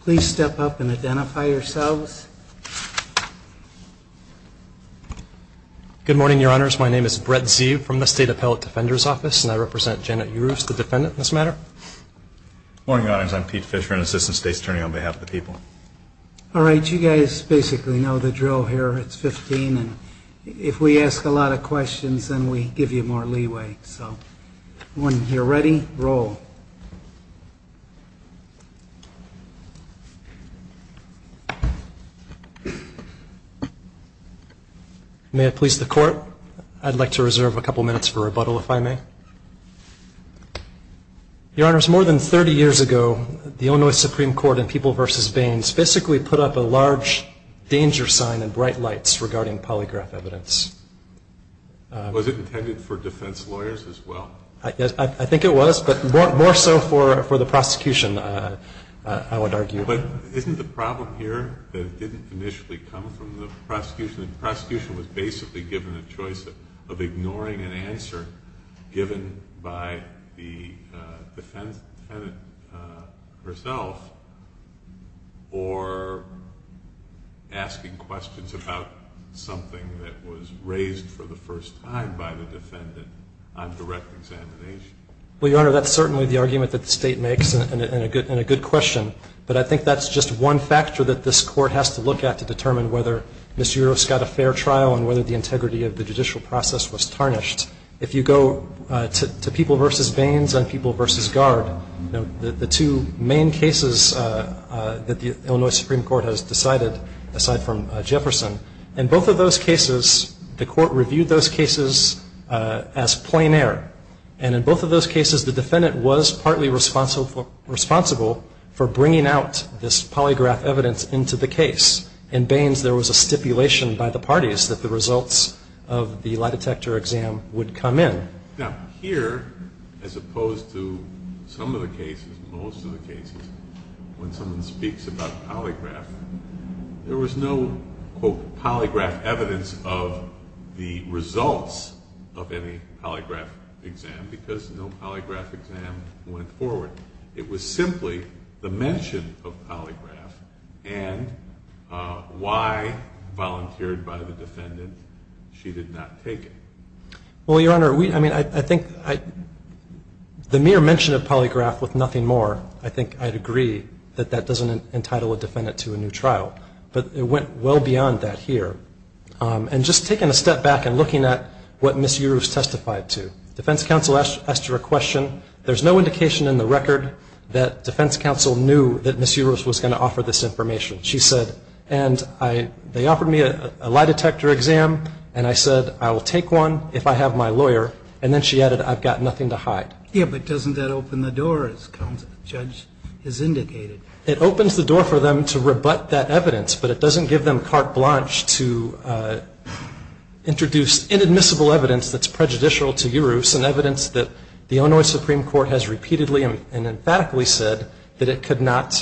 Please step up and identify yourselves. Good morning, Your Honors. My name is Brett Zeeb from the State Appellate Defender's Office, and I represent Janet Yurus, the defendant in this matter. Good morning, Your Honors. I'm Pete Fisher, an Assistant State's Attorney on behalf of the people. All right, you guys basically know the drill here. It's 15, and if we ask a lot of questions, then we give you more leeway. So when you're ready, roll. May I please the court? I'd like to reserve a couple minutes for rebuttal, if I may. Your Honors, more than 30 years ago, the Illinois Supreme Court in People v. Baines basically put up a large danger sign in bright lights regarding polygraph evidence. Was it intended for defense lawyers as well? I think it was, but more so for the prosecution, I would argue. But isn't the problem here that it didn't initially come from the prosecution? The prosecution was basically given a choice of ignoring an answer given by the defendant herself or asking questions about something that was raised for the first time by the defendant on direct examination. Well, Your Honor, that's certainly the argument that the state makes and a good question, but I think that's just one factor that this court has to look at to determine whether Ms. Yurus got a fair trial and whether the integrity of the judicial process was tarnished. If you go to People v. Baines and People v. Guard, the two main cases that the Illinois Supreme Court has decided, aside from Jefferson, in both of those cases, the court reviewed those cases as plain air. And in both of those cases, the defendant was partly responsible for bringing out this polygraph evidence into the case. In Baines, there was a stipulation by the parties that the results of the lie detector exam would come in. Now, here, as opposed to some of the cases, most of the cases, when someone speaks about polygraph, there was no, quote, polygraph evidence of the results of any polygraph exam because no polygraph exam went forward. It was simply the mention of polygraph and why, volunteered by the defendant, she did not take it. Well, Your Honor, I mean, I think the mere mention of polygraph with nothing more, I think I'd agree that that doesn't entitle a defendant to a new trial. But it went well beyond that here. And just taking a step back and looking at what Ms. Yurus testified to, defense counsel asked her a question. There's no indication in the record that defense counsel knew that Ms. Yurus was going to offer this information. She said, and they offered me a lie detector exam, and I said, I will take one if I have my lawyer. And then she added, I've got nothing to hide. Yeah, but doesn't that open the door, as the judge has indicated? It opens the door for them to rebut that evidence, but it doesn't give them carte blanche to introduce inadmissible evidence that's prejudicial to Yurus and evidence that the Illinois Supreme Court has repeatedly and emphatically said that it could not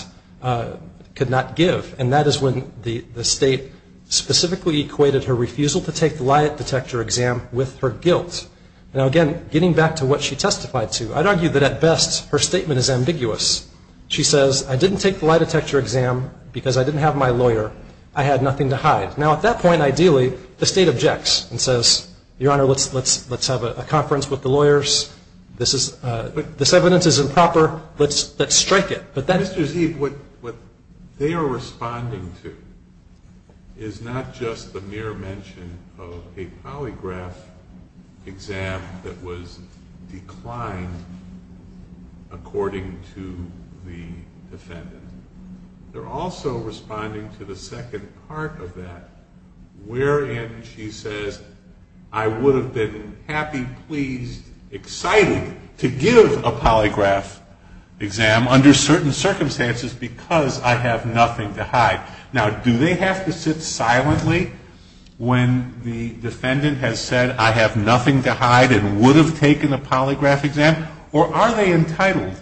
give. And that is when the state specifically equated her refusal to take the lie detector exam with her guilt. Now, again, getting back to what she testified to, I'd argue that, at best, her statement is ambiguous. She says, I didn't take the lie detector exam because I didn't have my lawyer. I had nothing to hide. Now, at that point, ideally, the state objects and says, Your Honor, let's have a conference with the lawyers. This evidence is improper. Let's strike it. Mr. Zeeb, what they are responding to is not just the mere mention of a polygraph exam that was declined according to the defendant. They're also responding to the second part of that, wherein she says, I would have been happy, pleased, excited to give a polygraph exam under certain circumstances because I have nothing to hide. Now, do they have to sit silently when the defendant has said, I have nothing to hide and would have taken a polygraph exam? Or are they entitled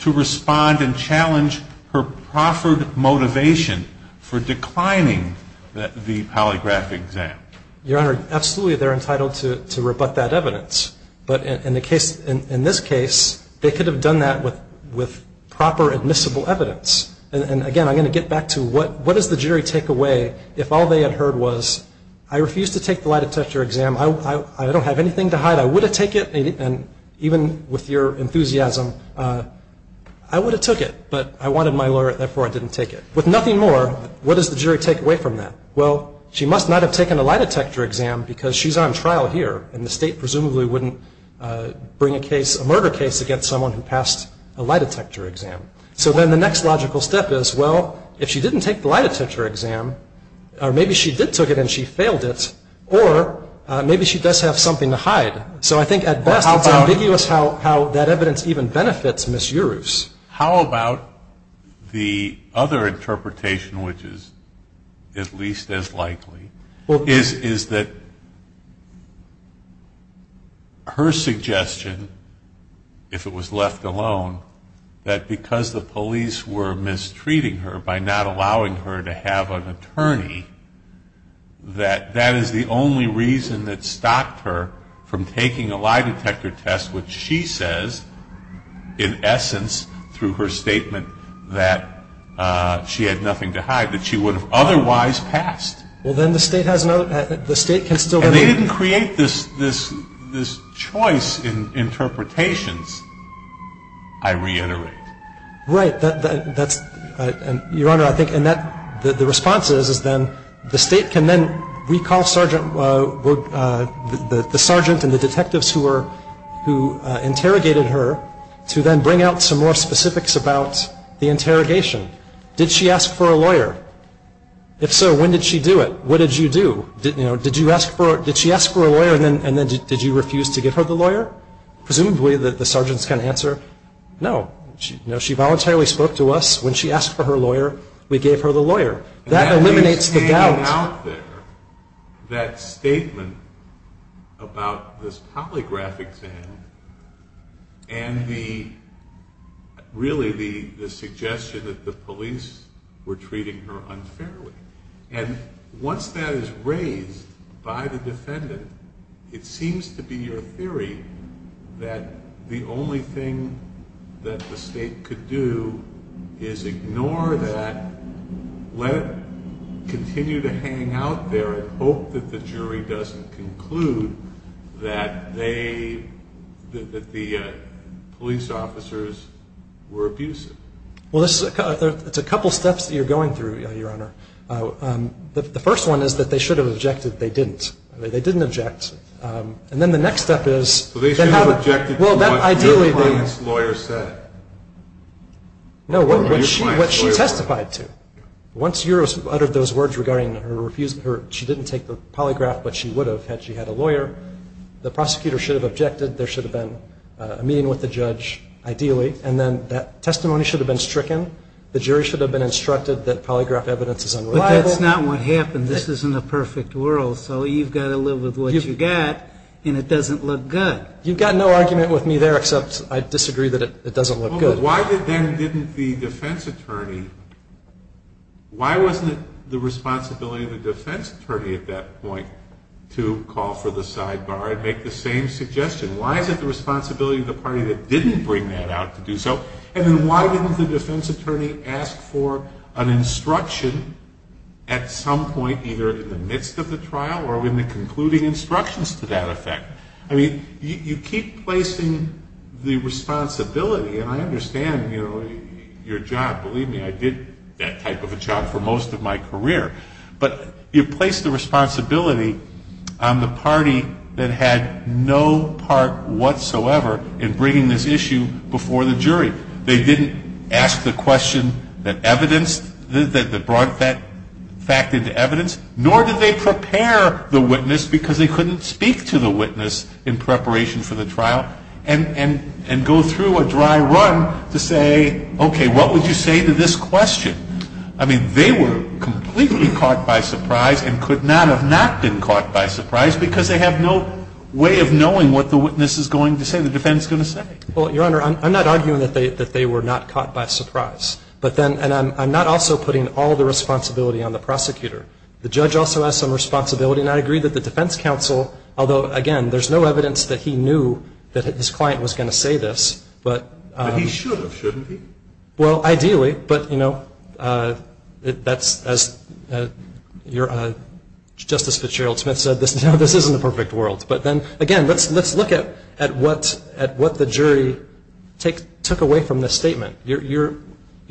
to respond and challenge her proffered motivation for declining the polygraph exam? Your Honor, absolutely, they're entitled to rebut that evidence. But in this case, they could have done that with proper admissible evidence. And, again, I'm going to get back to what does the jury take away if all they had heard was, I refuse to take the lie detector exam. I don't have anything to hide. I would have taken it, and even with your enthusiasm, I would have took it. But I wanted my lawyer, therefore I didn't take it. With nothing more, what does the jury take away from that? Well, she must not have taken a lie detector exam because she's on trial here, and the state presumably wouldn't bring a murder case against someone who passed a lie detector exam. So then the next logical step is, well, if she didn't take the lie detector exam, or maybe she did take it and she failed it, or maybe she does have something to hide. So I think at best it's ambiguous how that evidence even benefits Ms. Uroos. How about the other interpretation, which is at least as likely, is that her suggestion, if it was left alone, that because the police were mistreating her by not allowing her to have an attorney, that that is the only reason that stopped her from taking a lie detector test, which she says, in essence, through her statement that she had nothing to hide, that she would have otherwise passed. Well, then the state has no, the state can still. If they didn't create this choice in interpretations, I reiterate. Right. Your Honor, I think the response is then the state can then recall the sergeant and the detectives who interrogated her to then bring out some more specifics about the interrogation. Did she ask for a lawyer? If so, when did she do it? What did you do? Did she ask for a lawyer and then did you refuse to give her the lawyer? Presumably the sergeants can answer, no. She voluntarily spoke to us. When she asked for her lawyer, we gave her the lawyer. That eliminates the doubt. That statement about this polygraph exam and really the suggestion that the police were treating her unfairly. And once that is raised by the defendant, it seems to be your theory that the only thing that the state could do is ignore that, let it continue to hang out there and hope that the jury doesn't conclude that they, that the police officers were abusive. Well, it's a couple steps that you're going through, Your Honor. The first one is that they should have objected. They didn't. They didn't object. And then the next step is they have a – So they should have objected to what your client's lawyer said? No, what she testified to. Once you uttered those words regarding her refusal, she didn't take the polygraph, but she would have had she had a lawyer. There should have been a meeting with the judge, ideally. And then that testimony should have been stricken. The jury should have been instructed that polygraph evidence is unreliable. But that's not what happened. This isn't a perfect world, so you've got to live with what you've got, and it doesn't look good. You've got no argument with me there except I disagree that it doesn't look good. Well, but why then didn't the defense attorney – why wasn't it the responsibility of the defense attorney at that point to call for the sidebar and make the same suggestion? Why is it the responsibility of the party that didn't bring that out to do so? And then why didn't the defense attorney ask for an instruction at some point either in the midst of the trial or in the concluding instructions to that effect? I mean, you keep placing the responsibility, and I understand, you know, your job. Believe me, I did that type of a job for most of my career. But you place the responsibility on the party that had no part whatsoever in bringing this issue before the jury. They didn't ask the question that evidenced – that brought that fact into evidence, nor did they prepare the witness because they couldn't speak to the witness in preparation for the trial and go through a dry run to say, okay, what would you say to this question? I mean, they were completely caught by surprise and could not have not been caught by surprise because they have no way of knowing what the witness is going to say, the defense is going to say. Well, Your Honor, I'm not arguing that they were not caught by surprise. But then – and I'm not also putting all the responsibility on the prosecutor. The judge also has some responsibility, and I agree that the defense counsel – although, again, there's no evidence that he knew that his client was going to say this. But he should have, shouldn't he? Well, ideally, but, you know, that's – as Justice Fitzgerald Smith said, this isn't a perfect world. But then, again, let's look at what the jury took away from this statement. You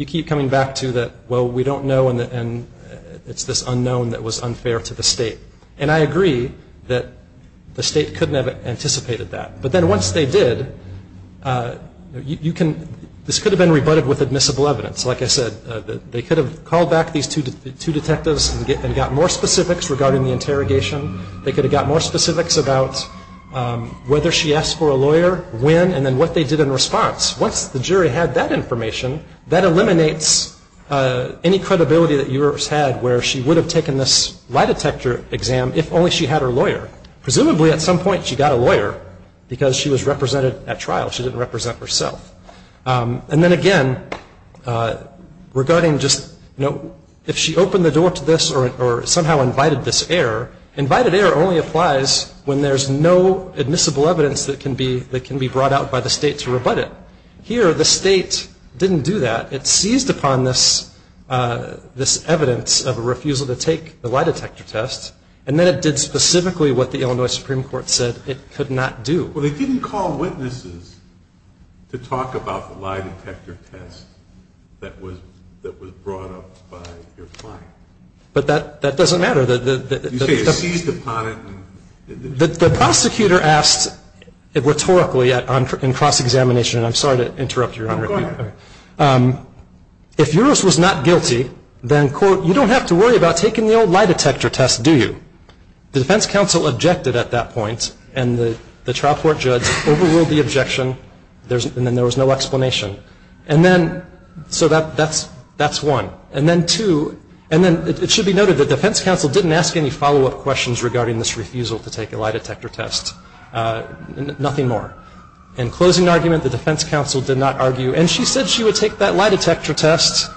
keep coming back to that, well, we don't know, and it's this unknown that was unfair to the state. And I agree that the state couldn't have anticipated that. But then once they did, you can – this could have been rebutted with admissible evidence. Like I said, they could have called back these two detectives and got more specifics regarding the interrogation. They could have got more specifics about whether she asked for a lawyer, when, and then what they did in response. Once the jury had that information, that eliminates any credibility that yours had where she would have taken this lie detector exam if only she had her lawyer. Presumably, at some point, she got a lawyer because she was represented at trial. She didn't represent herself. And then, again, regarding just, you know, if she opened the door to this or somehow invited this error, invited error only applies when there's no admissible evidence that can be brought out by the state to rebut it. Here, the state didn't do that. It seized upon this evidence of a refusal to take the lie detector test. And then it did specifically what the Illinois Supreme Court said it could not do. Well, they didn't call witnesses to talk about the lie detector test that was brought up by your client. But that doesn't matter. You say it seized upon it. The prosecutor asked rhetorically in cross-examination, and I'm sorry to interrupt, Your Honor. Go ahead. If yours was not guilty, then, quote, you don't have to worry about taking the old lie detector test, do you? The defense counsel objected at that point, and the trial court judge overruled the objection, and then there was no explanation. And then, so that's one. And then two, and then it should be noted that the defense counsel didn't ask any follow-up questions regarding this refusal to take a lie detector test, nothing more. In closing argument, the defense counsel did not argue. And she said she would take that lie detector test,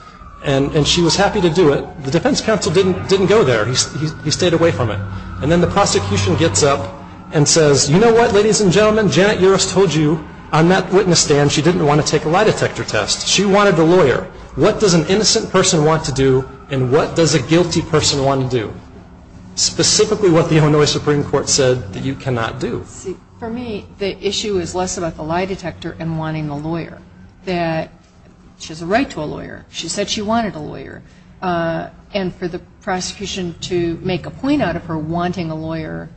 and she was happy to do it. The defense counsel didn't go there. He stayed away from it. And then the prosecution gets up and says, you know what, ladies and gentlemen, Janet Uris told you on that witness stand she didn't want to take a lie detector test. She wanted the lawyer. What does an innocent person want to do, and what does a guilty person want to do? Specifically what the Illinois Supreme Court said that you cannot do. For me, the issue is less about the lie detector and wanting the lawyer, that she has a right to a lawyer. She said she wanted a lawyer. And for the prosecution to make a point out of her wanting a lawyer,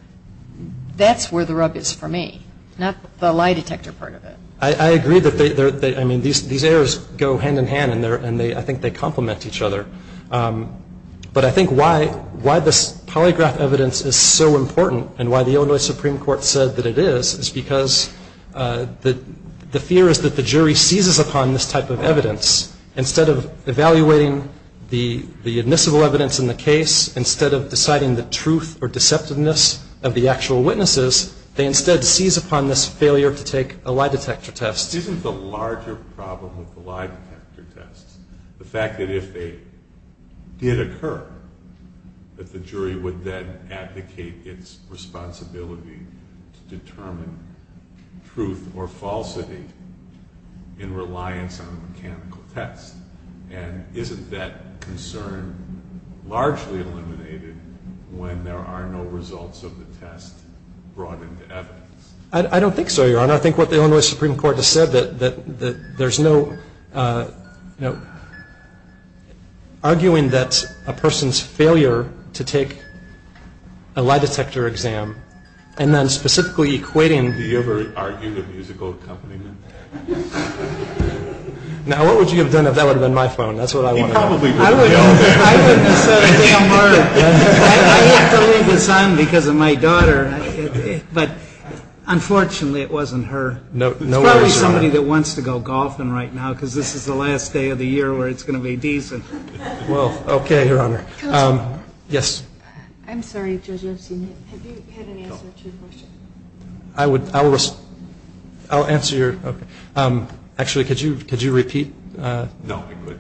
that's where the rub is for me, not the lie detector part of it. I agree that they're, I mean, these errors go hand in hand, and I think they complement each other. But I think why this polygraph evidence is so important and why the Illinois Supreme Court said that it is, is because the fear is that the jury seizes upon this type of evidence. Instead of evaluating the admissible evidence in the case, instead of deciding the truth or deceptiveness of the actual witnesses, they instead seize upon this failure to take a lie detector test. Isn't the larger problem with the lie detector tests the fact that if they did occur, that the jury would then advocate its responsibility to determine truth or falsity in reliance on a mechanical test? And isn't that concern largely eliminated when there are no results of the test brought into evidence? I don't think so, Your Honor. I think what the Illinois Supreme Court has said, that there's no, you know, arguing that a person's failure to take a lie detector exam and then specifically equating... Did you ever argue the musical accompaniment? Now, what would you have done if that would have been my phone? That's what I want to know. He probably would have. I wouldn't have said a damn word. I have to leave this on because of my daughter. But unfortunately, it wasn't her. No worries, Your Honor. It's probably somebody that wants to go golfing right now because this is the last day of the year where it's going to be decent. Well, okay, Your Honor. Counselor. Yes. I'm sorry, Judge Epstein. Have you had an answer to your question? I'll answer your... Actually, could you repeat? No, I quit.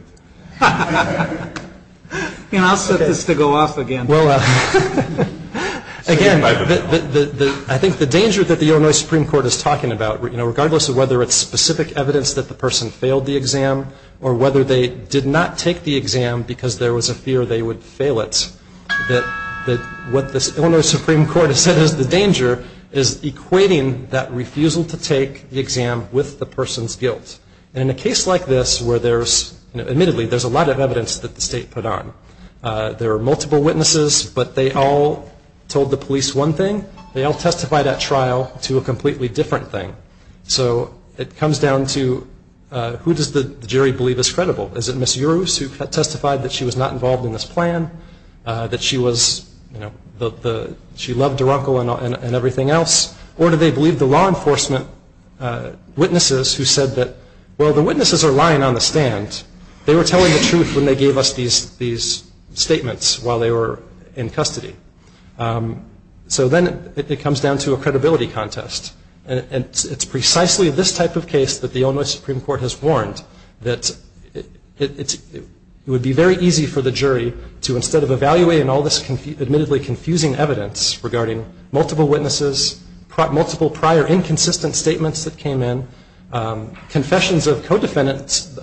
I'll set this to go off again. Well, again, I think the danger that the Illinois Supreme Court is talking about, regardless of whether it's specific evidence that the person failed the exam or whether they did not take the exam because there was a fear they would fail it, that what the Illinois Supreme Court has said is the danger is equating that refusal to take the exam with the person's guilt. And in a case like this where there's, admittedly, there's a lot of evidence that the state put on, there are multiple witnesses, but they all told the police one thing. They all testified at trial to a completely different thing. So it comes down to who does the jury believe is credible? Is it Ms. Uroos who testified that she was not involved in this plan, that she loved her uncle and everything else? Or do they believe the law enforcement witnesses who said that, well, the witnesses are lying on the stand. They were telling the truth when they gave us these statements while they were in custody. So then it comes down to a credibility contest. And it's precisely this type of case that the Illinois Supreme Court has warned that it would be very easy for the jury to, instead of evaluating all this admittedly confusing evidence regarding multiple witnesses, multiple prior inconsistent statements that came in, confessions of a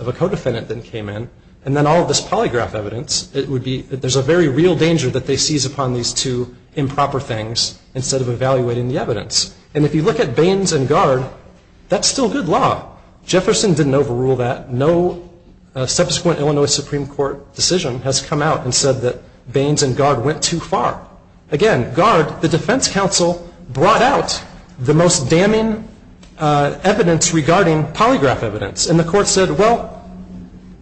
co-defendant that came in, and then all of this polygraph evidence, it would be, there's a very real danger that they seize upon these two improper things instead of evaluating the evidence. And if you look at Baines and Gard, that's still good law. Jefferson didn't overrule that. No subsequent Illinois Supreme Court decision has come out and said that Baines and Gard went too far. Again, Gard, the defense counsel, brought out the most damning evidence regarding polygraph evidence. And the court said, well,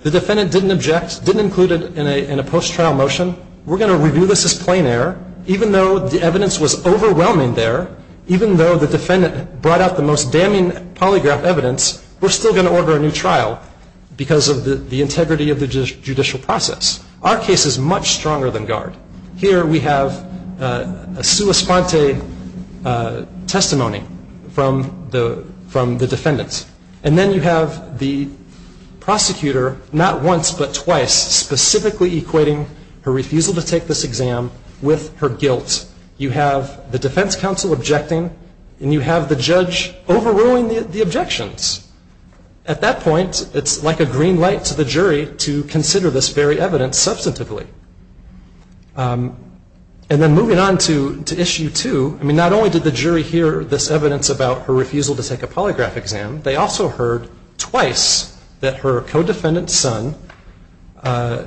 the defendant didn't object, didn't include it in a post-trial motion. We're going to review this as plain error. Even though the evidence was overwhelming there, even though the defendant brought out the most damning polygraph evidence, we're still going to order a new trial because of the integrity of the judicial process. Our case is much stronger than Gard. Here we have a sua sponte testimony from the defendant. And then you have the prosecutor not once but twice specifically equating her refusal to take this exam with her guilt. You have the defense counsel objecting and you have the judge overruling the objections. At that point, it's like a green light to the jury to consider this very evidence substantively. And then moving on to issue two. I mean, not only did the jury hear this evidence about her refusal to take a polygraph exam, they also heard twice that her co-defendant's son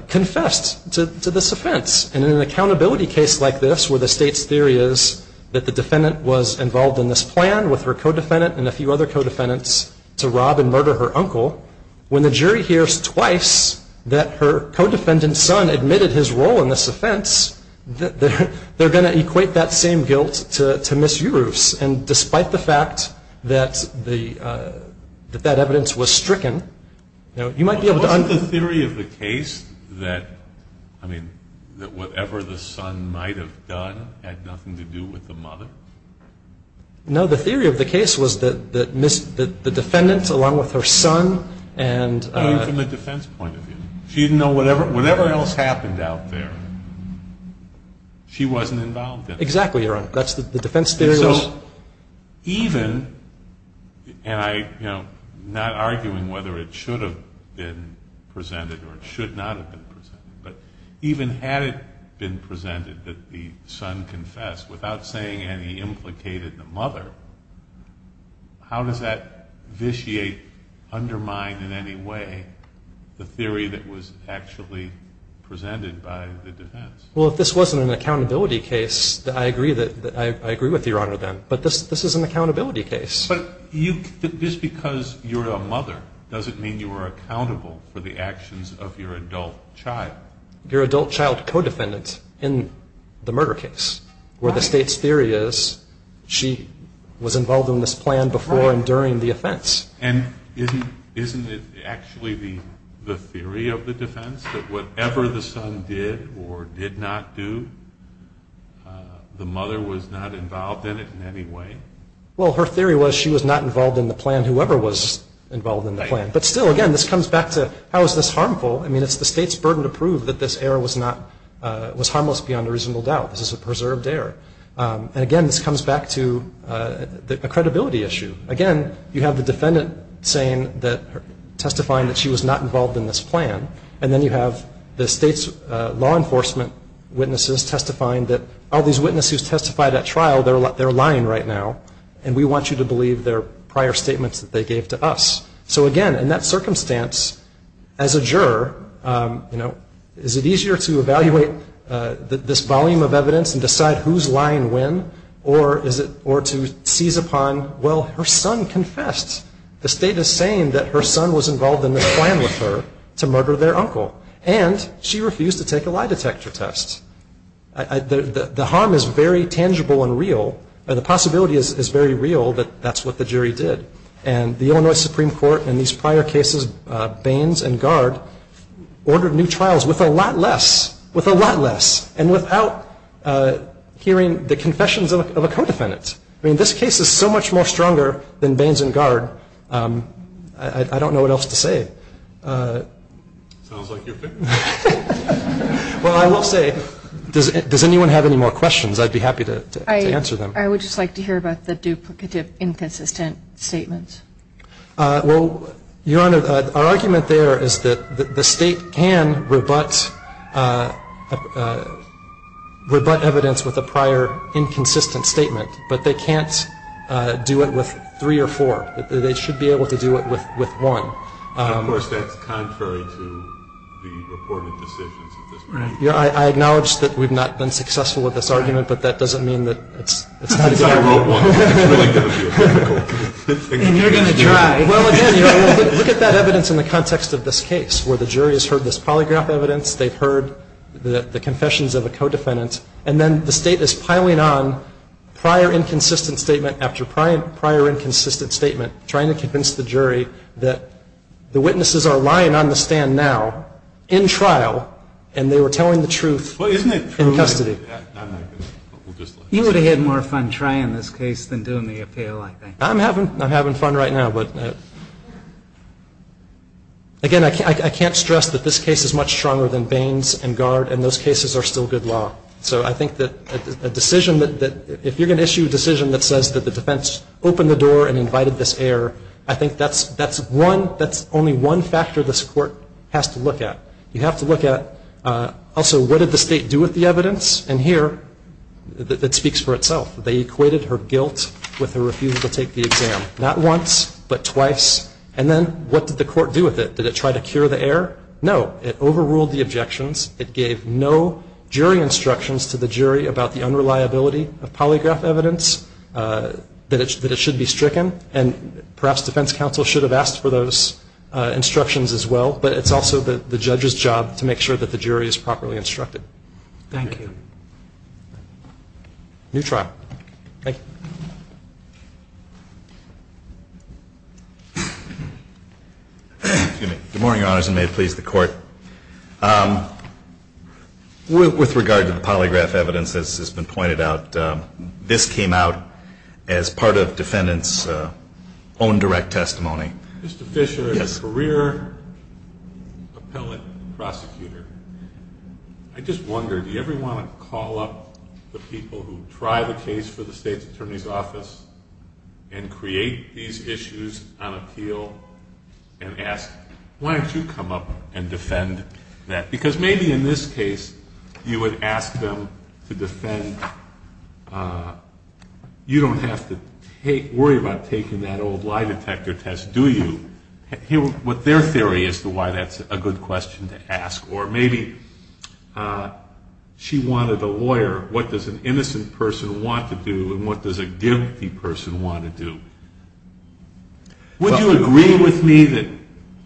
confessed to this offense. And in an accountability case like this where the state's theory is that the defendant was involved in this plan with her co-defendant and a few other co-defendants to rob and murder her uncle, when the jury hears twice that her co-defendant's son admitted his role in this offense, they're going to equate that same guilt to Ms. Uroof's. And despite the fact that that evidence was stricken, you might be able to understand. Wasn't the theory of the case that, I mean, that whatever the son might have done had nothing to do with the mother? No. The theory of the case was that Ms. — that the defendant, along with her son, and — I mean, from a defense point of view. She didn't know whatever else happened out there. She wasn't involved in it. Exactly, Your Honor. That's the defense theory was — And so even — and I, you know, not arguing whether it should have been presented or it should not have been presented, but even had it been presented that the son confessed without saying any implicated the mother, how does that vitiate, undermine in any way, the theory that was actually presented by the defense? Well, if this wasn't an accountability case, I agree with you, Your Honor, then. But this is an accountability case. But you — just because you're a mother doesn't mean you are accountable for the actions of your adult child. Your adult child co-defendant in the murder case, where the state's theory is she was involved in this plan before and during the offense. And isn't it actually the theory of the defense that whatever the son did or did not do, the mother was not involved in it in any way? Well, her theory was she was not involved in the plan, whoever was involved in the plan. But still, again, this comes back to how is this harmful? I mean, it's the state's burden to prove that this error was harmless beyond a reasonable doubt. This is a preserved error. And, again, this comes back to a credibility issue. Again, you have the defendant testifying that she was not involved in this plan, and then you have the state's law enforcement witnesses testifying that all these witnesses who testified at trial, they're lying right now, and we want you to believe their prior statements that they gave to us. So, again, in that circumstance, as a juror, is it easier to evaluate this volume of evidence and decide who's lying when or to seize upon, well, her son confessed. The state is saying that her son was involved in this plan with her to murder their uncle. And she refused to take a lie detector test. The harm is very tangible and real, and the possibility is very real that that's what the jury did. And the Illinois Supreme Court in these prior cases, Baines and Guard, ordered new trials with a lot less, with a lot less, and without hearing the confessions of a co-defendant. I mean, this case is so much more stronger than Baines and Guard, I don't know what else to say. Sounds like you're finished. Well, I will say, does anyone have any more questions? I'd be happy to answer them. I would just like to hear about the duplicative inconsistent statements. Well, Your Honor, our argument there is that the state can rebut evidence with a prior inconsistent statement, but they can't do it with three or four. They should be able to do it with one. Of course, that's contrary to the reported decisions at this point. I acknowledge that we've not been successful with this argument, but that doesn't mean that it's not a good argument. I wrote one. You're going to try. Well, again, Your Honor, look at that evidence in the context of this case, where the jury has heard this polygraph evidence, they've heard the confessions of a co-defendant, and then the state is piling on prior inconsistent statement after prior inconsistent statement, trying to convince the jury that the witnesses are lying on the stand now, in trial, and they were telling the truth in custody. You would have had more fun trying this case than doing the appeal, I think. I'm having fun right now. Again, I can't stress that this case is much stronger than Baines and Guard, and those cases are still good law. So I think that if you're going to issue a decision that says that the defense opened the door and invited this error, I think that's only one factor this Court has to look at. You have to look at, also, what did the state do with the evidence? And here, it speaks for itself. They equated her guilt with her refusal to take the exam, not once, but twice. And then what did the Court do with it? Did it try to cure the error? No. It overruled the objections. It gave no jury instructions to the jury about the unreliability of polygraph evidence, that it should be stricken. And perhaps defense counsel should have asked for those instructions as well. But it's also the judge's job to make sure that the jury is properly instructed. Thank you. New trial. Thank you. Good morning, Your Honors, and may it please the Court. With regard to the polygraph evidence, as has been pointed out, this came out as part of defendant's own direct testimony. Mr. Fisher is a career appellate prosecutor. I just wonder, do you ever want to call up the people who try the case for the State's Attorney's Office and create these issues on appeal and ask, why don't you come up and defend that? Because maybe in this case, you would ask them to defend. You don't have to worry about taking that old lie detector test, do you? What's their theory as to why that's a good question to ask? Or maybe she wanted a lawyer. What does an innocent person want to do, and what does a guilty person want to do? Would you agree with me that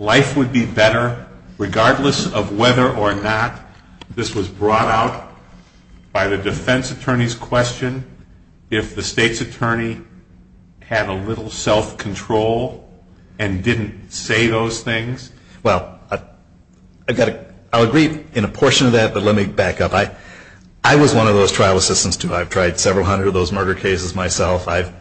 life would be better regardless of whether or not this was brought out by the defense attorney if the state's attorney had a little self-control and didn't say those things? Well, I'll agree in a portion of that, but let me back up. I was one of those trial assistants, too. I've tried several hundred of those murder cases myself. I've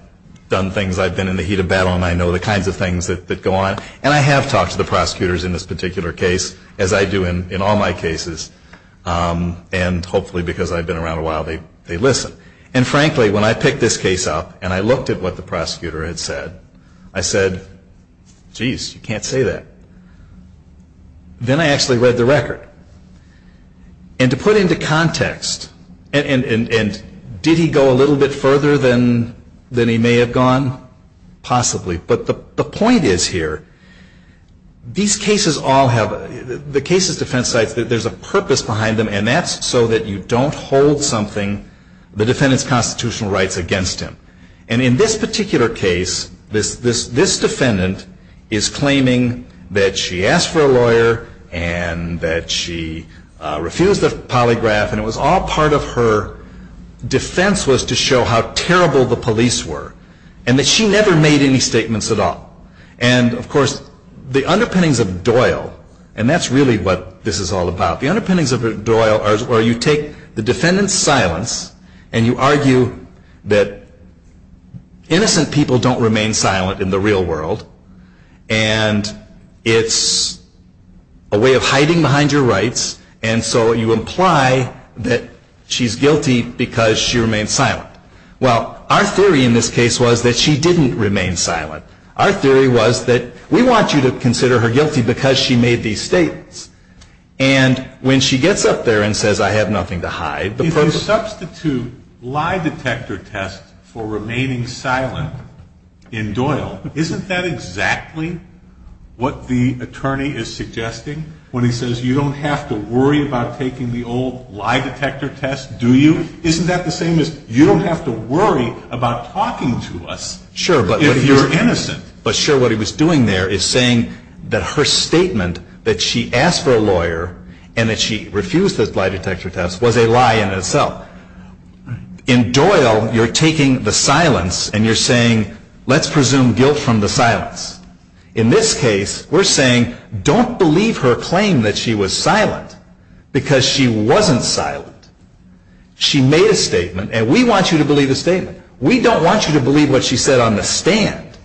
done things. I've been in the heat of battle, and I know the kinds of things that go on. And I have talked to the prosecutors in this particular case, as I do in all my cases, and hopefully because I've been around a while, they listen. And frankly, when I picked this case up and I looked at what the prosecutor had said, I said, geez, you can't say that. Then I actually read the record. And to put into context, and did he go a little bit further than he may have gone? Possibly. But the point is here, these cases all have, the cases defense sites, there's a purpose behind them, and that's so that you don't hold something, the defendant's constitutional rights against him. And in this particular case, this defendant is claiming that she asked for a lawyer and that she refused the polygraph, and it was all part of her defense was to show how terrible the police were and that she never made any statements at all. And of course, the underpinnings of Doyle, and that's really what this is all about, the underpinnings of Doyle are you take the defendant's silence and you argue that innocent people don't remain silent in the real world, and it's a way of hiding behind your rights, and so you imply that she's guilty because she remains silent. Well, our theory in this case was that she didn't remain silent. Our theory was that we want you to consider her guilty because she made these statements. And when she gets up there and says, I have nothing to hide. If you substitute lie detector tests for remaining silent in Doyle, isn't that exactly what the attorney is suggesting? When he says you don't have to worry about taking the old lie detector test, do you? Isn't that the same as you don't have to worry about talking to us if you're innocent? Sure, but what he was doing there is saying that her statement that she asked for a lawyer and that she refused the lie detector test was a lie in itself. In Doyle, you're taking the silence and you're saying let's presume guilt from the silence. In this case, we're saying don't believe her claim that she was silent because she wasn't silent. She made a statement and we want you to believe the statement. We don't want you to believe what she said on the stand.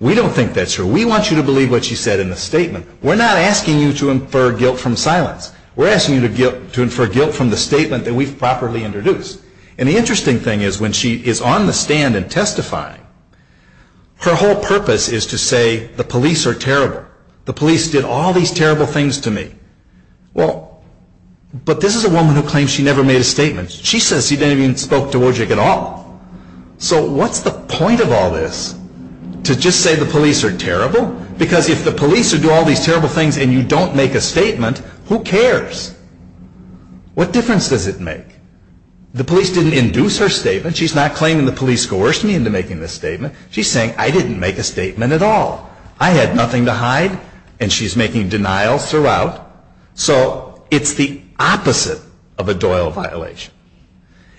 We don't think that's true. We want you to believe what she said in the statement. We're not asking you to infer guilt from silence. We're asking you to infer guilt from the statement that we've properly introduced. And the interesting thing is when she is on the stand and testifying, her whole purpose is to say the police are terrible. The police did all these terrible things to me. But this is a woman who claims she never made a statement. She says she didn't even spoke to Wojcik at all. So what's the point of all this to just say the police are terrible? Because if the police do all these terrible things and you don't make a statement, who cares? What difference does it make? The police didn't induce her statement. She's not claiming the police coerced me into making this statement. She's saying I didn't make a statement at all. I had nothing to hide and she's making denials throughout. So it's the opposite of a Doyle violation.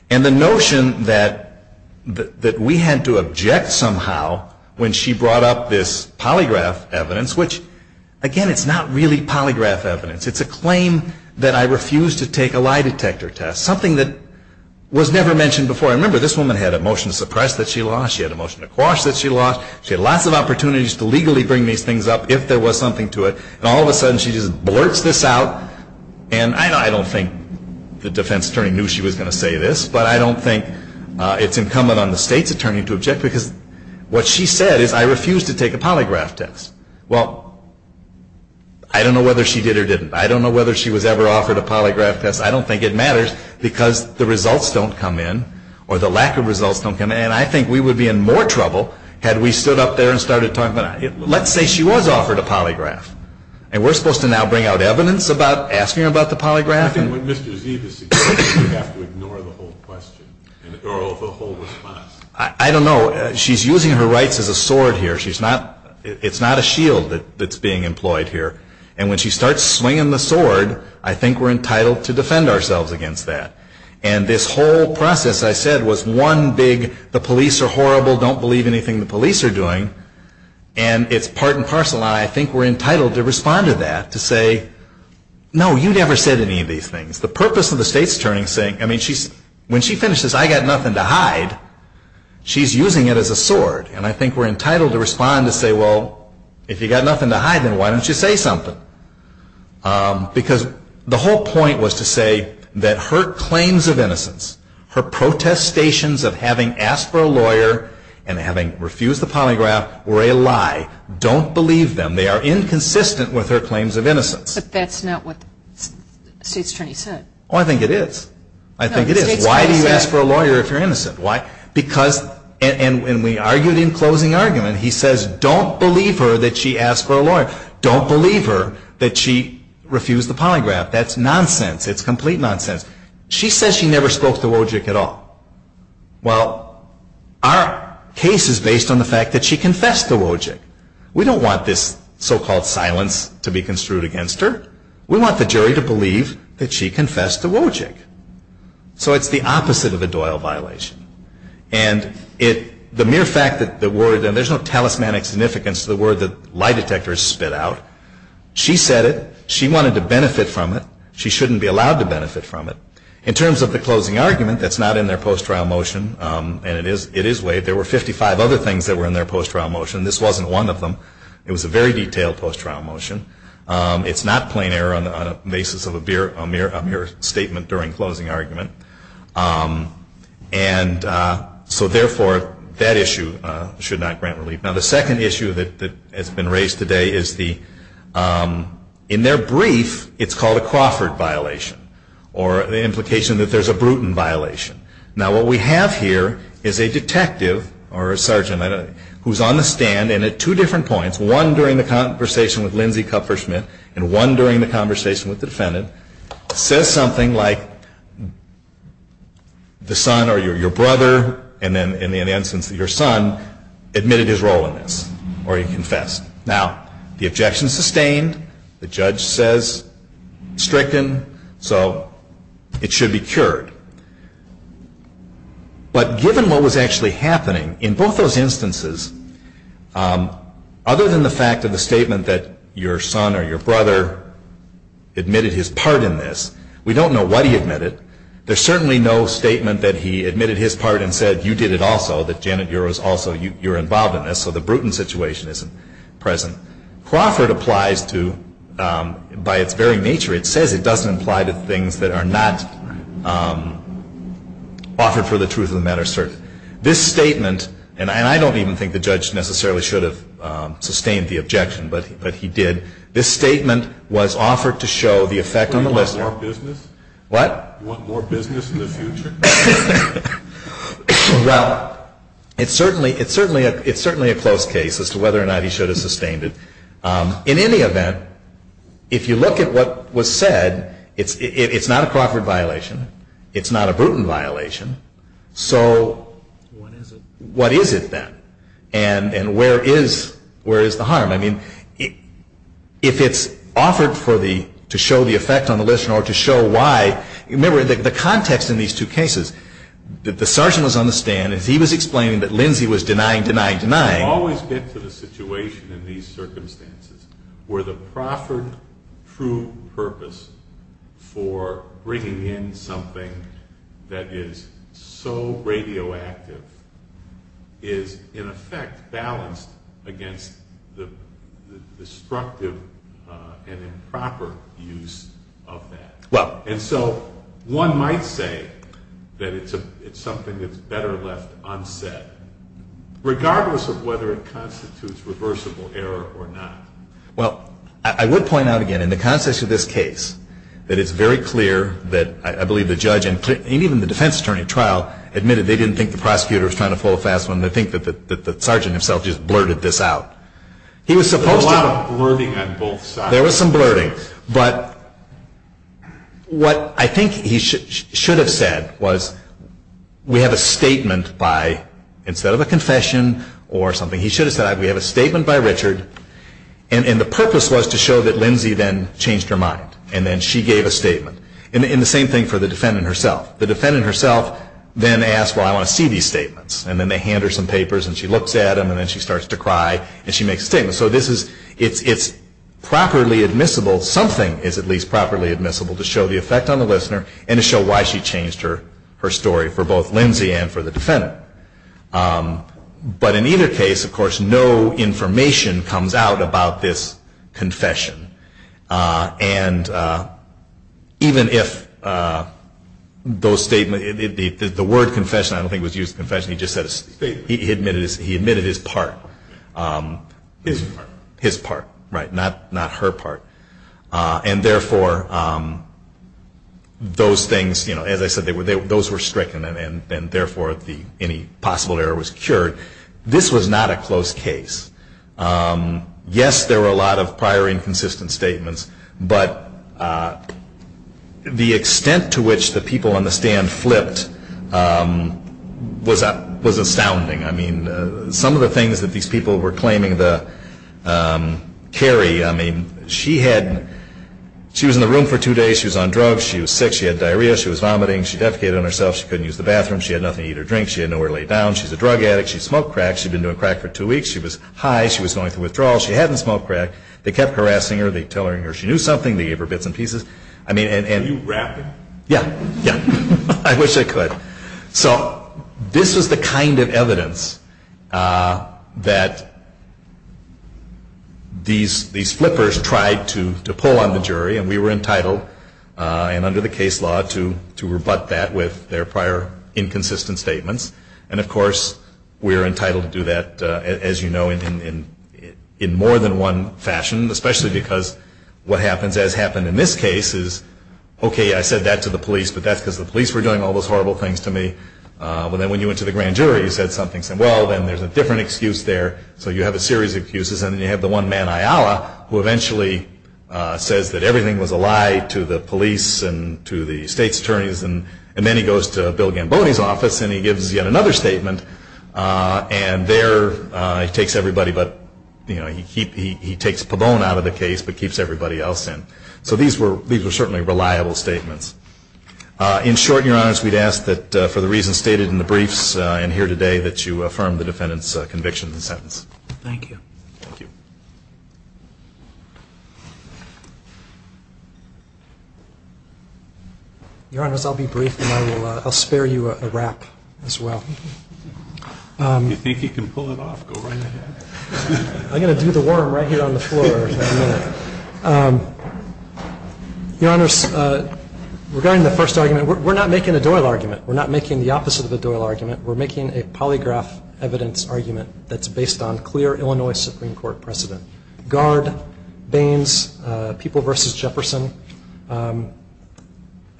And the notion that we had to object somehow when she brought up this polygraph evidence, which, again, it's not really polygraph evidence. It's a claim that I refused to take a lie detector test, something that was never mentioned before. I remember this woman had a motion to suppress that she lost. She had a motion to quash that she lost. She had lots of opportunities to legally bring these things up if there was something to it. And all of a sudden she just blurts this out. And I don't think the defense attorney knew she was going to say this, but I don't think it's incumbent on the state's attorney to object because what she said is I refused to take a polygraph test. Well, I don't know whether she did or didn't. I don't know whether she was ever offered a polygraph test. I don't think it matters because the results don't come in or the lack of results don't come in. And I think we would be in more trouble had we stood up there and started talking about it. Let's say she was offered a polygraph. And we're supposed to now bring out evidence about asking her about the polygraph? I think what Mr. Zee is suggesting is we have to ignore the whole question or the whole response. I don't know. She's using her rights as a sword here. It's not a shield that's being employed here. And when she starts swinging the sword, I think we're entitled to defend ourselves against that. And this whole process I said was one big the police are horrible, don't believe anything the police are doing. And it's part and parcel. And I think we're entitled to respond to that, to say, no, you never said any of these things. The purpose of the state's attorney saying, I mean, when she finishes, I've got nothing to hide. She's using it as a sword. And I think we're entitled to respond to say, well, if you've got nothing to hide, then why don't you say something? Because the whole point was to say that her claims of innocence, her protestations of having asked for a lawyer and having refused the polygraph were a lie. Don't believe them. They are inconsistent with her claims of innocence. But that's not what the state's attorney said. Oh, I think it is. I think it is. Why do you ask for a lawyer if you're innocent? Why? Because, and we argued in closing argument, he says don't believe her that she asked for a lawyer. Don't believe her that she refused the polygraph. That's nonsense. It's complete nonsense. She says she never spoke to Wojcik at all. Well, our case is based on the fact that she confessed to Wojcik. We don't want this so-called silence to be construed against her. We want the jury to believe that she confessed to Wojcik. So it's the opposite of a Doyle violation. And the mere fact that the word, and there's no talismanic significance to the word that lie detectors spit out. She said it. She wanted to benefit from it. She shouldn't be allowed to benefit from it. In terms of the closing argument, that's not in their post-trial motion. And it is waived. There were 55 other things that were in their post-trial motion. This wasn't one of them. It was a very detailed post-trial motion. It's not plain error on the basis of a mere statement during closing argument. And so, therefore, that issue should not grant relief. Now, the second issue that has been raised today is the, in their brief, it's called a Crawford violation. Or the implication that there's a Bruton violation. Now, what we have here is a detective, or a sergeant, who's on the stand. And at two different points, one during the conversation with Lindsay Kupfer-Schmidt, and one during the conversation with the defendant, says something like, the son or your brother, and then in the instance your son, admitted his role in this. Or he confessed. Now, the objection is sustained. The judge says stricken. So it should be cured. But given what was actually happening, in both those instances, other than the fact of the statement that your son or your brother admitted his part in this, we don't know what he admitted. There's certainly no statement that he admitted his part and said, you did it also, that Janet, you're involved in this, so the Bruton situation isn't present. Crawford applies to, by its very nature, it says it doesn't apply to things that are not offered for the truth of the matter. This statement, and I don't even think the judge necessarily should have sustained the objection, but he did, this statement was offered to show the effect on the listener. Do you want more business? What? Do you want more business in the future? Well, it's certainly a close case as to whether or not he should have sustained it. In any event, if you look at what was said, it's not a Crawford violation. It's not a Bruton violation. So what is it then? And where is the harm? I mean, if it's offered to show the effect on the listener or to show why, remember, the context in these two cases, the sergeant was on the stand and he was explaining that Lindsay was denying, denying, denying. I always get to the situation in these circumstances where the Crawford true purpose for bringing in something that is so radioactive is, in effect, balanced against the destructive and improper use of that. And so one might say that it's something that's better left unsaid, regardless of whether it constitutes reversible error or not. Well, I would point out again, in the context of this case, that it's very clear that I believe the judge and even the defense attorney at trial admitted they didn't think the prosecutor was trying to pull a fast one. They think that the sergeant himself just blurted this out. There was a lot of blurting on both sides. Now, there was some blurting, but what I think he should have said was, we have a statement by, instead of a confession or something, he should have said, we have a statement by Richard, and the purpose was to show that Lindsay then changed her mind. And then she gave a statement. And the same thing for the defendant herself. The defendant herself then asked, well, I want to see these statements. And then they hand her some papers and she looks at them and then she starts to cry and she makes a statement. So this is, it's properly admissible, something is at least properly admissible to show the effect on the listener and to show why she changed her story for both Lindsay and for the defendant. But in either case, of course, no information comes out about this confession. And even if the word confession, I don't think it was used, he admitted his part. His part, right, not her part. And therefore, those things, as I said, those were stricken and therefore any possible error was cured. This was not a close case. Yes, there were a lot of prior inconsistent statements, but the extent to which the people on the stand flipped was astounding. I mean, some of the things that these people were claiming to carry, I mean, she had, she was in the room for two days, she was on drugs, she was sick, she had diarrhea, she was vomiting, she defecated on herself, she couldn't use the bathroom, she had nothing to eat or drink, she had nowhere to lay down, she's a drug addict, she smoked crack, she'd been doing crack for two weeks, she was high, she was going through withdrawal, she hadn't smoked crack, they kept harassing her, they'd tell her she knew something, they gave her bits and pieces. Can you rap it? Yeah, yeah, I wish I could. So this was the kind of evidence that these flippers tried to pull on the jury, and we were entitled, and under the case law, to rebut that with their prior inconsistent statements. And, of course, we're entitled to do that, as you know, in more than one fashion, especially because what happens, as happened in this case, is, okay, I said that to the police, but that's because the police were doing all those horrible things to me. But then when you went to the grand jury, you said something, said, well, then there's a different excuse there, so you have a series of excuses, and then you have the one man, Ayala, who eventually says that everything was a lie to the police and to the state's attorneys, and then he goes to Bill Gamboni's office and he gives yet another statement, and there he takes everybody but, you know, he takes Pabon out of the case but keeps everybody else in. So these were certainly reliable statements. In short, Your Honors, we'd ask that for the reasons stated in the briefs and here today, that you affirm the defendant's conviction and sentence. Thank you. Thank you. Your Honors, I'll be brief, and I'll spare you a rap as well. If you think you can pull it off, go right ahead. I'm going to do the worm right here on the floor in a minute. Your Honors, regarding the first argument, we're not making a Doyle argument. We're not making the opposite of a Doyle argument. We're making a polygraph evidence argument that's based on clear Illinois Supreme Court precedent. Guard, Baines, People v. Jefferson,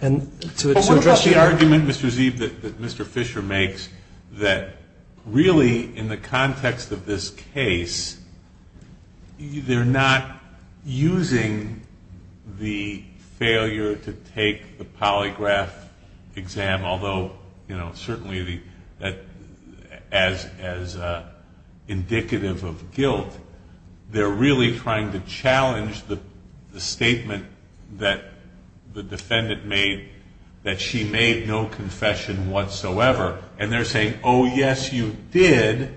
and to address the argument, Mr. Zeeb, that Mr. Fisher makes that really in the context of this case, they're not using the failure to take the polygraph exam, although, you know, they're really trying to challenge the statement that the defendant made, that she made no confession whatsoever. And they're saying, oh, yes, you did.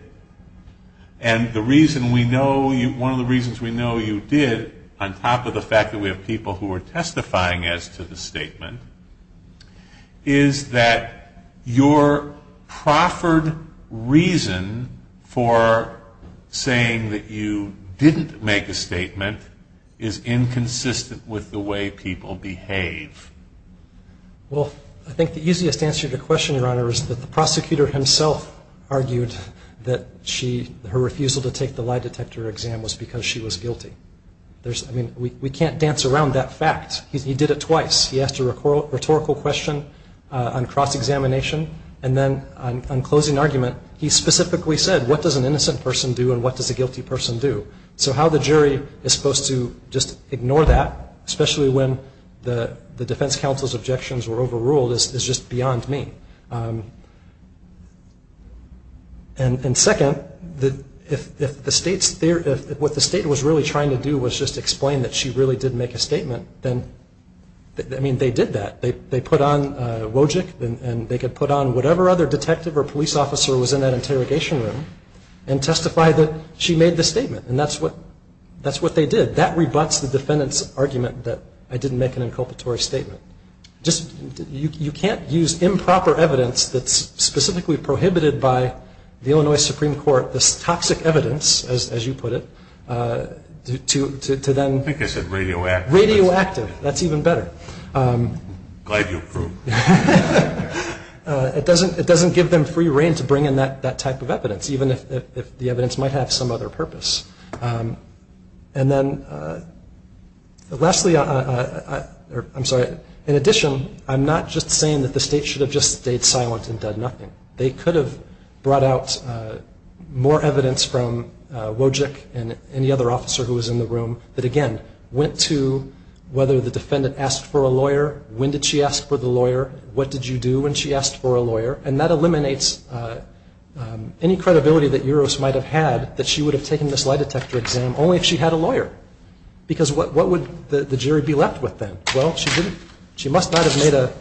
And the reason we know you – one of the reasons we know you did, on top of the fact that we have people who are testifying as to the statement, is that your proffered reason for saying that you didn't make a statement is inconsistent with the way people behave. Well, I think the easiest answer to the question, Your Honor, is that the prosecutor himself argued that her refusal to take the lie detector exam was because she was guilty. I mean, we can't dance around that fact. He did it twice. He asked a rhetorical question on cross-examination. And then on closing argument, he specifically said, what does an innocent person do and what does a guilty person do? So how the jury is supposed to just ignore that, especially when the defense counsel's objections were overruled, is just beyond me. And second, if the state's – what the state was really trying to do was just explain that she really did make a statement, then – I mean, they did that. They put on Wojcik and they could put on whatever other detective or police officer was in that interrogation room and testify that she made the statement. And that's what they did. That rebuts the defendant's argument that I didn't make an inculpatory statement. Just – you can't use improper evidence that's specifically prohibited by the Illinois Supreme Court, this toxic evidence, as you put it, to then – I think I said radioactive. Radioactive. That's even better. Glad you approved. It doesn't give them free rein to bring in that type of evidence, even if the evidence might have some other purpose. And then lastly – I'm sorry. In addition, I'm not just saying that the state should have just stayed silent and done nothing. They could have brought out more evidence from Wojcik and any other officer who was in the room that, again, went to whether the defendant asked for a lawyer, when did she ask for the lawyer, what did you do when she asked for a lawyer, and that eliminates any credibility that Uros might have had that she would have taken this lie detector exam only if she had a lawyer because what would the jury be left with then? Well, she must not have made a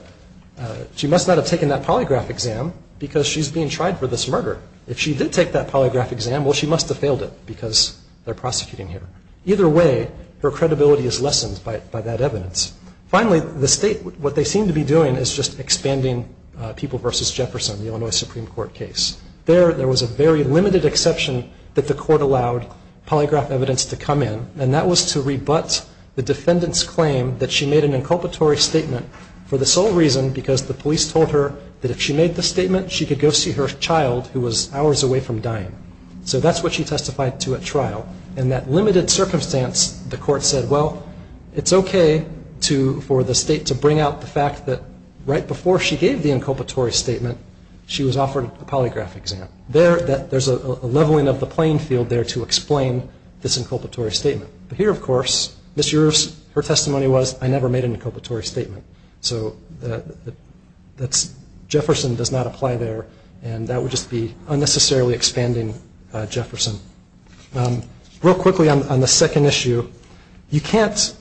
– she must not have taken that polygraph exam because she's being tried for this murder. If she did take that polygraph exam, well, she must have failed it because they're prosecuting her. Either way, her credibility is lessened by that evidence. Finally, the state – what they seem to be doing is just expanding People v. Jefferson, the Illinois Supreme Court case. There was a very limited exception that the court allowed polygraph evidence to come in, and that was to rebut the defendant's claim that she made an inculpatory statement for the sole reason because the police told her that if she made the statement, she could go see her child who was hours away from dying. So that's what she testified to at trial. In that limited circumstance, the court said, well, it's okay for the state to bring out the fact that right before she gave the inculpatory statement, she was offered a polygraph exam. There's a leveling of the playing field there to explain this inculpatory statement. But here, of course, Ms. Ewers, her testimony was, I never made an inculpatory statement. So that's – Jefferson does not apply there, and that would just be unnecessarily expanding Jefferson. Real quickly on the second issue, you can't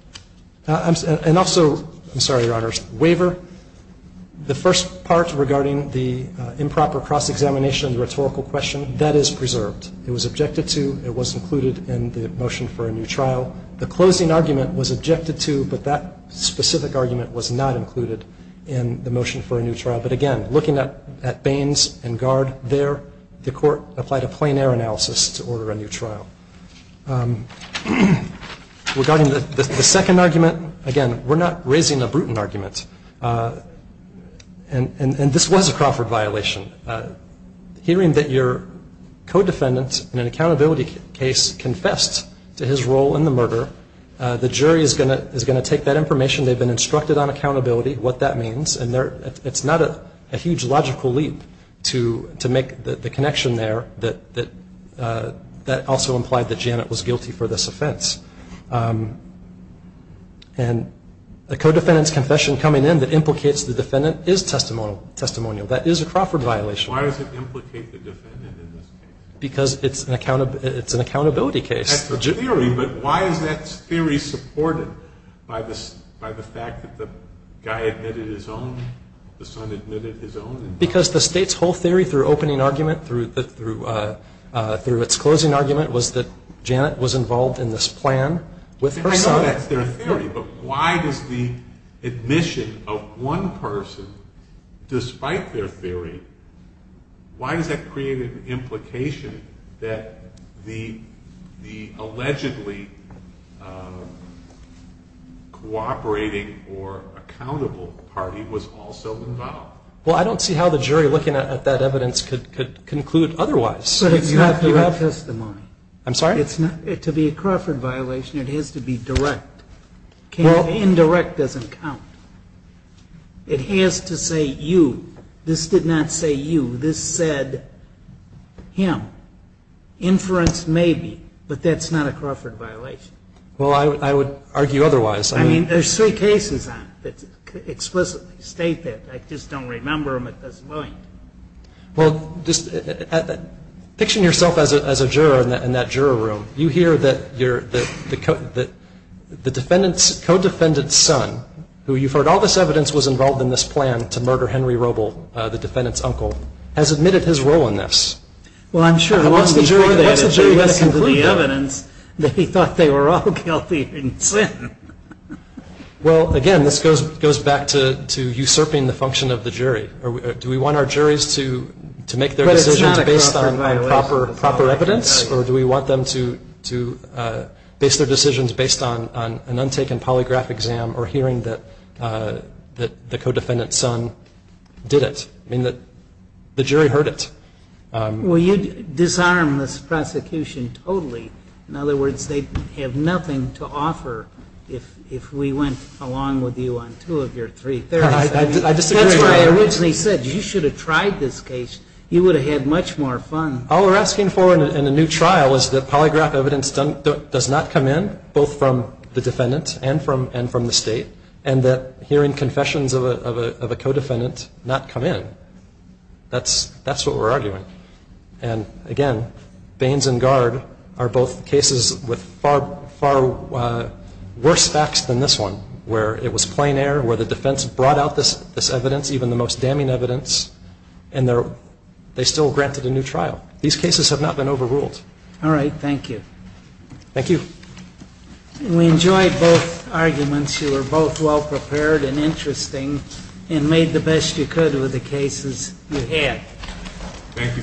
– and also, I'm sorry, Your Honors, waiver, the first part regarding the improper cross-examination of the rhetorical question, that is preserved. It was objected to. It was included in the motion for a new trial. The closing argument was objected to, but that specific argument was not included in the motion for a new trial. But, again, looking at Baines and Gard there, the court applied a plein air analysis to order a new trial. Regarding the second argument, again, we're not raising a brutal argument, and this was a Crawford violation. Hearing that your co-defendant in an accountability case confessed to his role in the murder, the jury is going to take that information. They've been instructed on accountability, what that means, and it's not a huge logical leap to make the connection there that also implied that Janet was guilty for this offense. And the co-defendant's confession coming in that implicates the defendant is testimonial. That is a Crawford violation. Why does it implicate the defendant in this case? Because it's an accountability case. That's the theory, but why is that theory supported by the fact that the guy admitted his own, the son admitted his own? Because the State's whole theory through opening argument, through its closing argument was that Janet was involved in this plan with her son. I know that's their theory, but why does the admission of one person, despite their theory, why does that create an implication that the allegedly cooperating or accountable party was also involved? Well, I don't see how the jury looking at that evidence could conclude otherwise. But it's not direct testimony. I'm sorry? To be a Crawford violation, it has to be direct. Indirect doesn't count. It has to say you. This did not say you. This said him. Inference, maybe, but that's not a Crawford violation. Well, I would argue otherwise. I mean, there's three cases on it that explicitly state that. I just don't remember them at this point. Well, just picture yourself as a juror in that juror room. You hear that the defendant's co-defendant's son, who you've heard all this evidence was involved in this plan to murder Henry Roble, the defendant's uncle, has admitted his role in this. Well, I'm sure. Unless the jury has to conclude that. Unless the jury has to conclude the evidence that he thought they were all guilty in sin. Well, again, this goes back to usurping the function of the jury. Do we want our juries to make their decisions based on proper evidence, or do we want them to base their decisions based on an untaken polygraph exam or hearing that the co-defendant's son did it? I mean, the jury heard it. Well, you disarm this prosecution totally. In other words, they have nothing to offer if we went along with you on two of your three. That's why I originally said you should have tried this case. You would have had much more fun. All we're asking for in a new trial is that polygraph evidence does not come in, both from the defendant and from the State, and that hearing confessions of a co-defendant not come in. That's what we're arguing. And, again, Baines and Gard are both cases with far worse facts than this one, where it was plain air, where the defense brought out this evidence, even the most damning evidence, and they still granted a new trial. These cases have not been overruled. All right. Thank you. Thank you. We enjoyed both arguments. You were both well-prepared and interesting and made the best you could with the cases you had. Thank you both.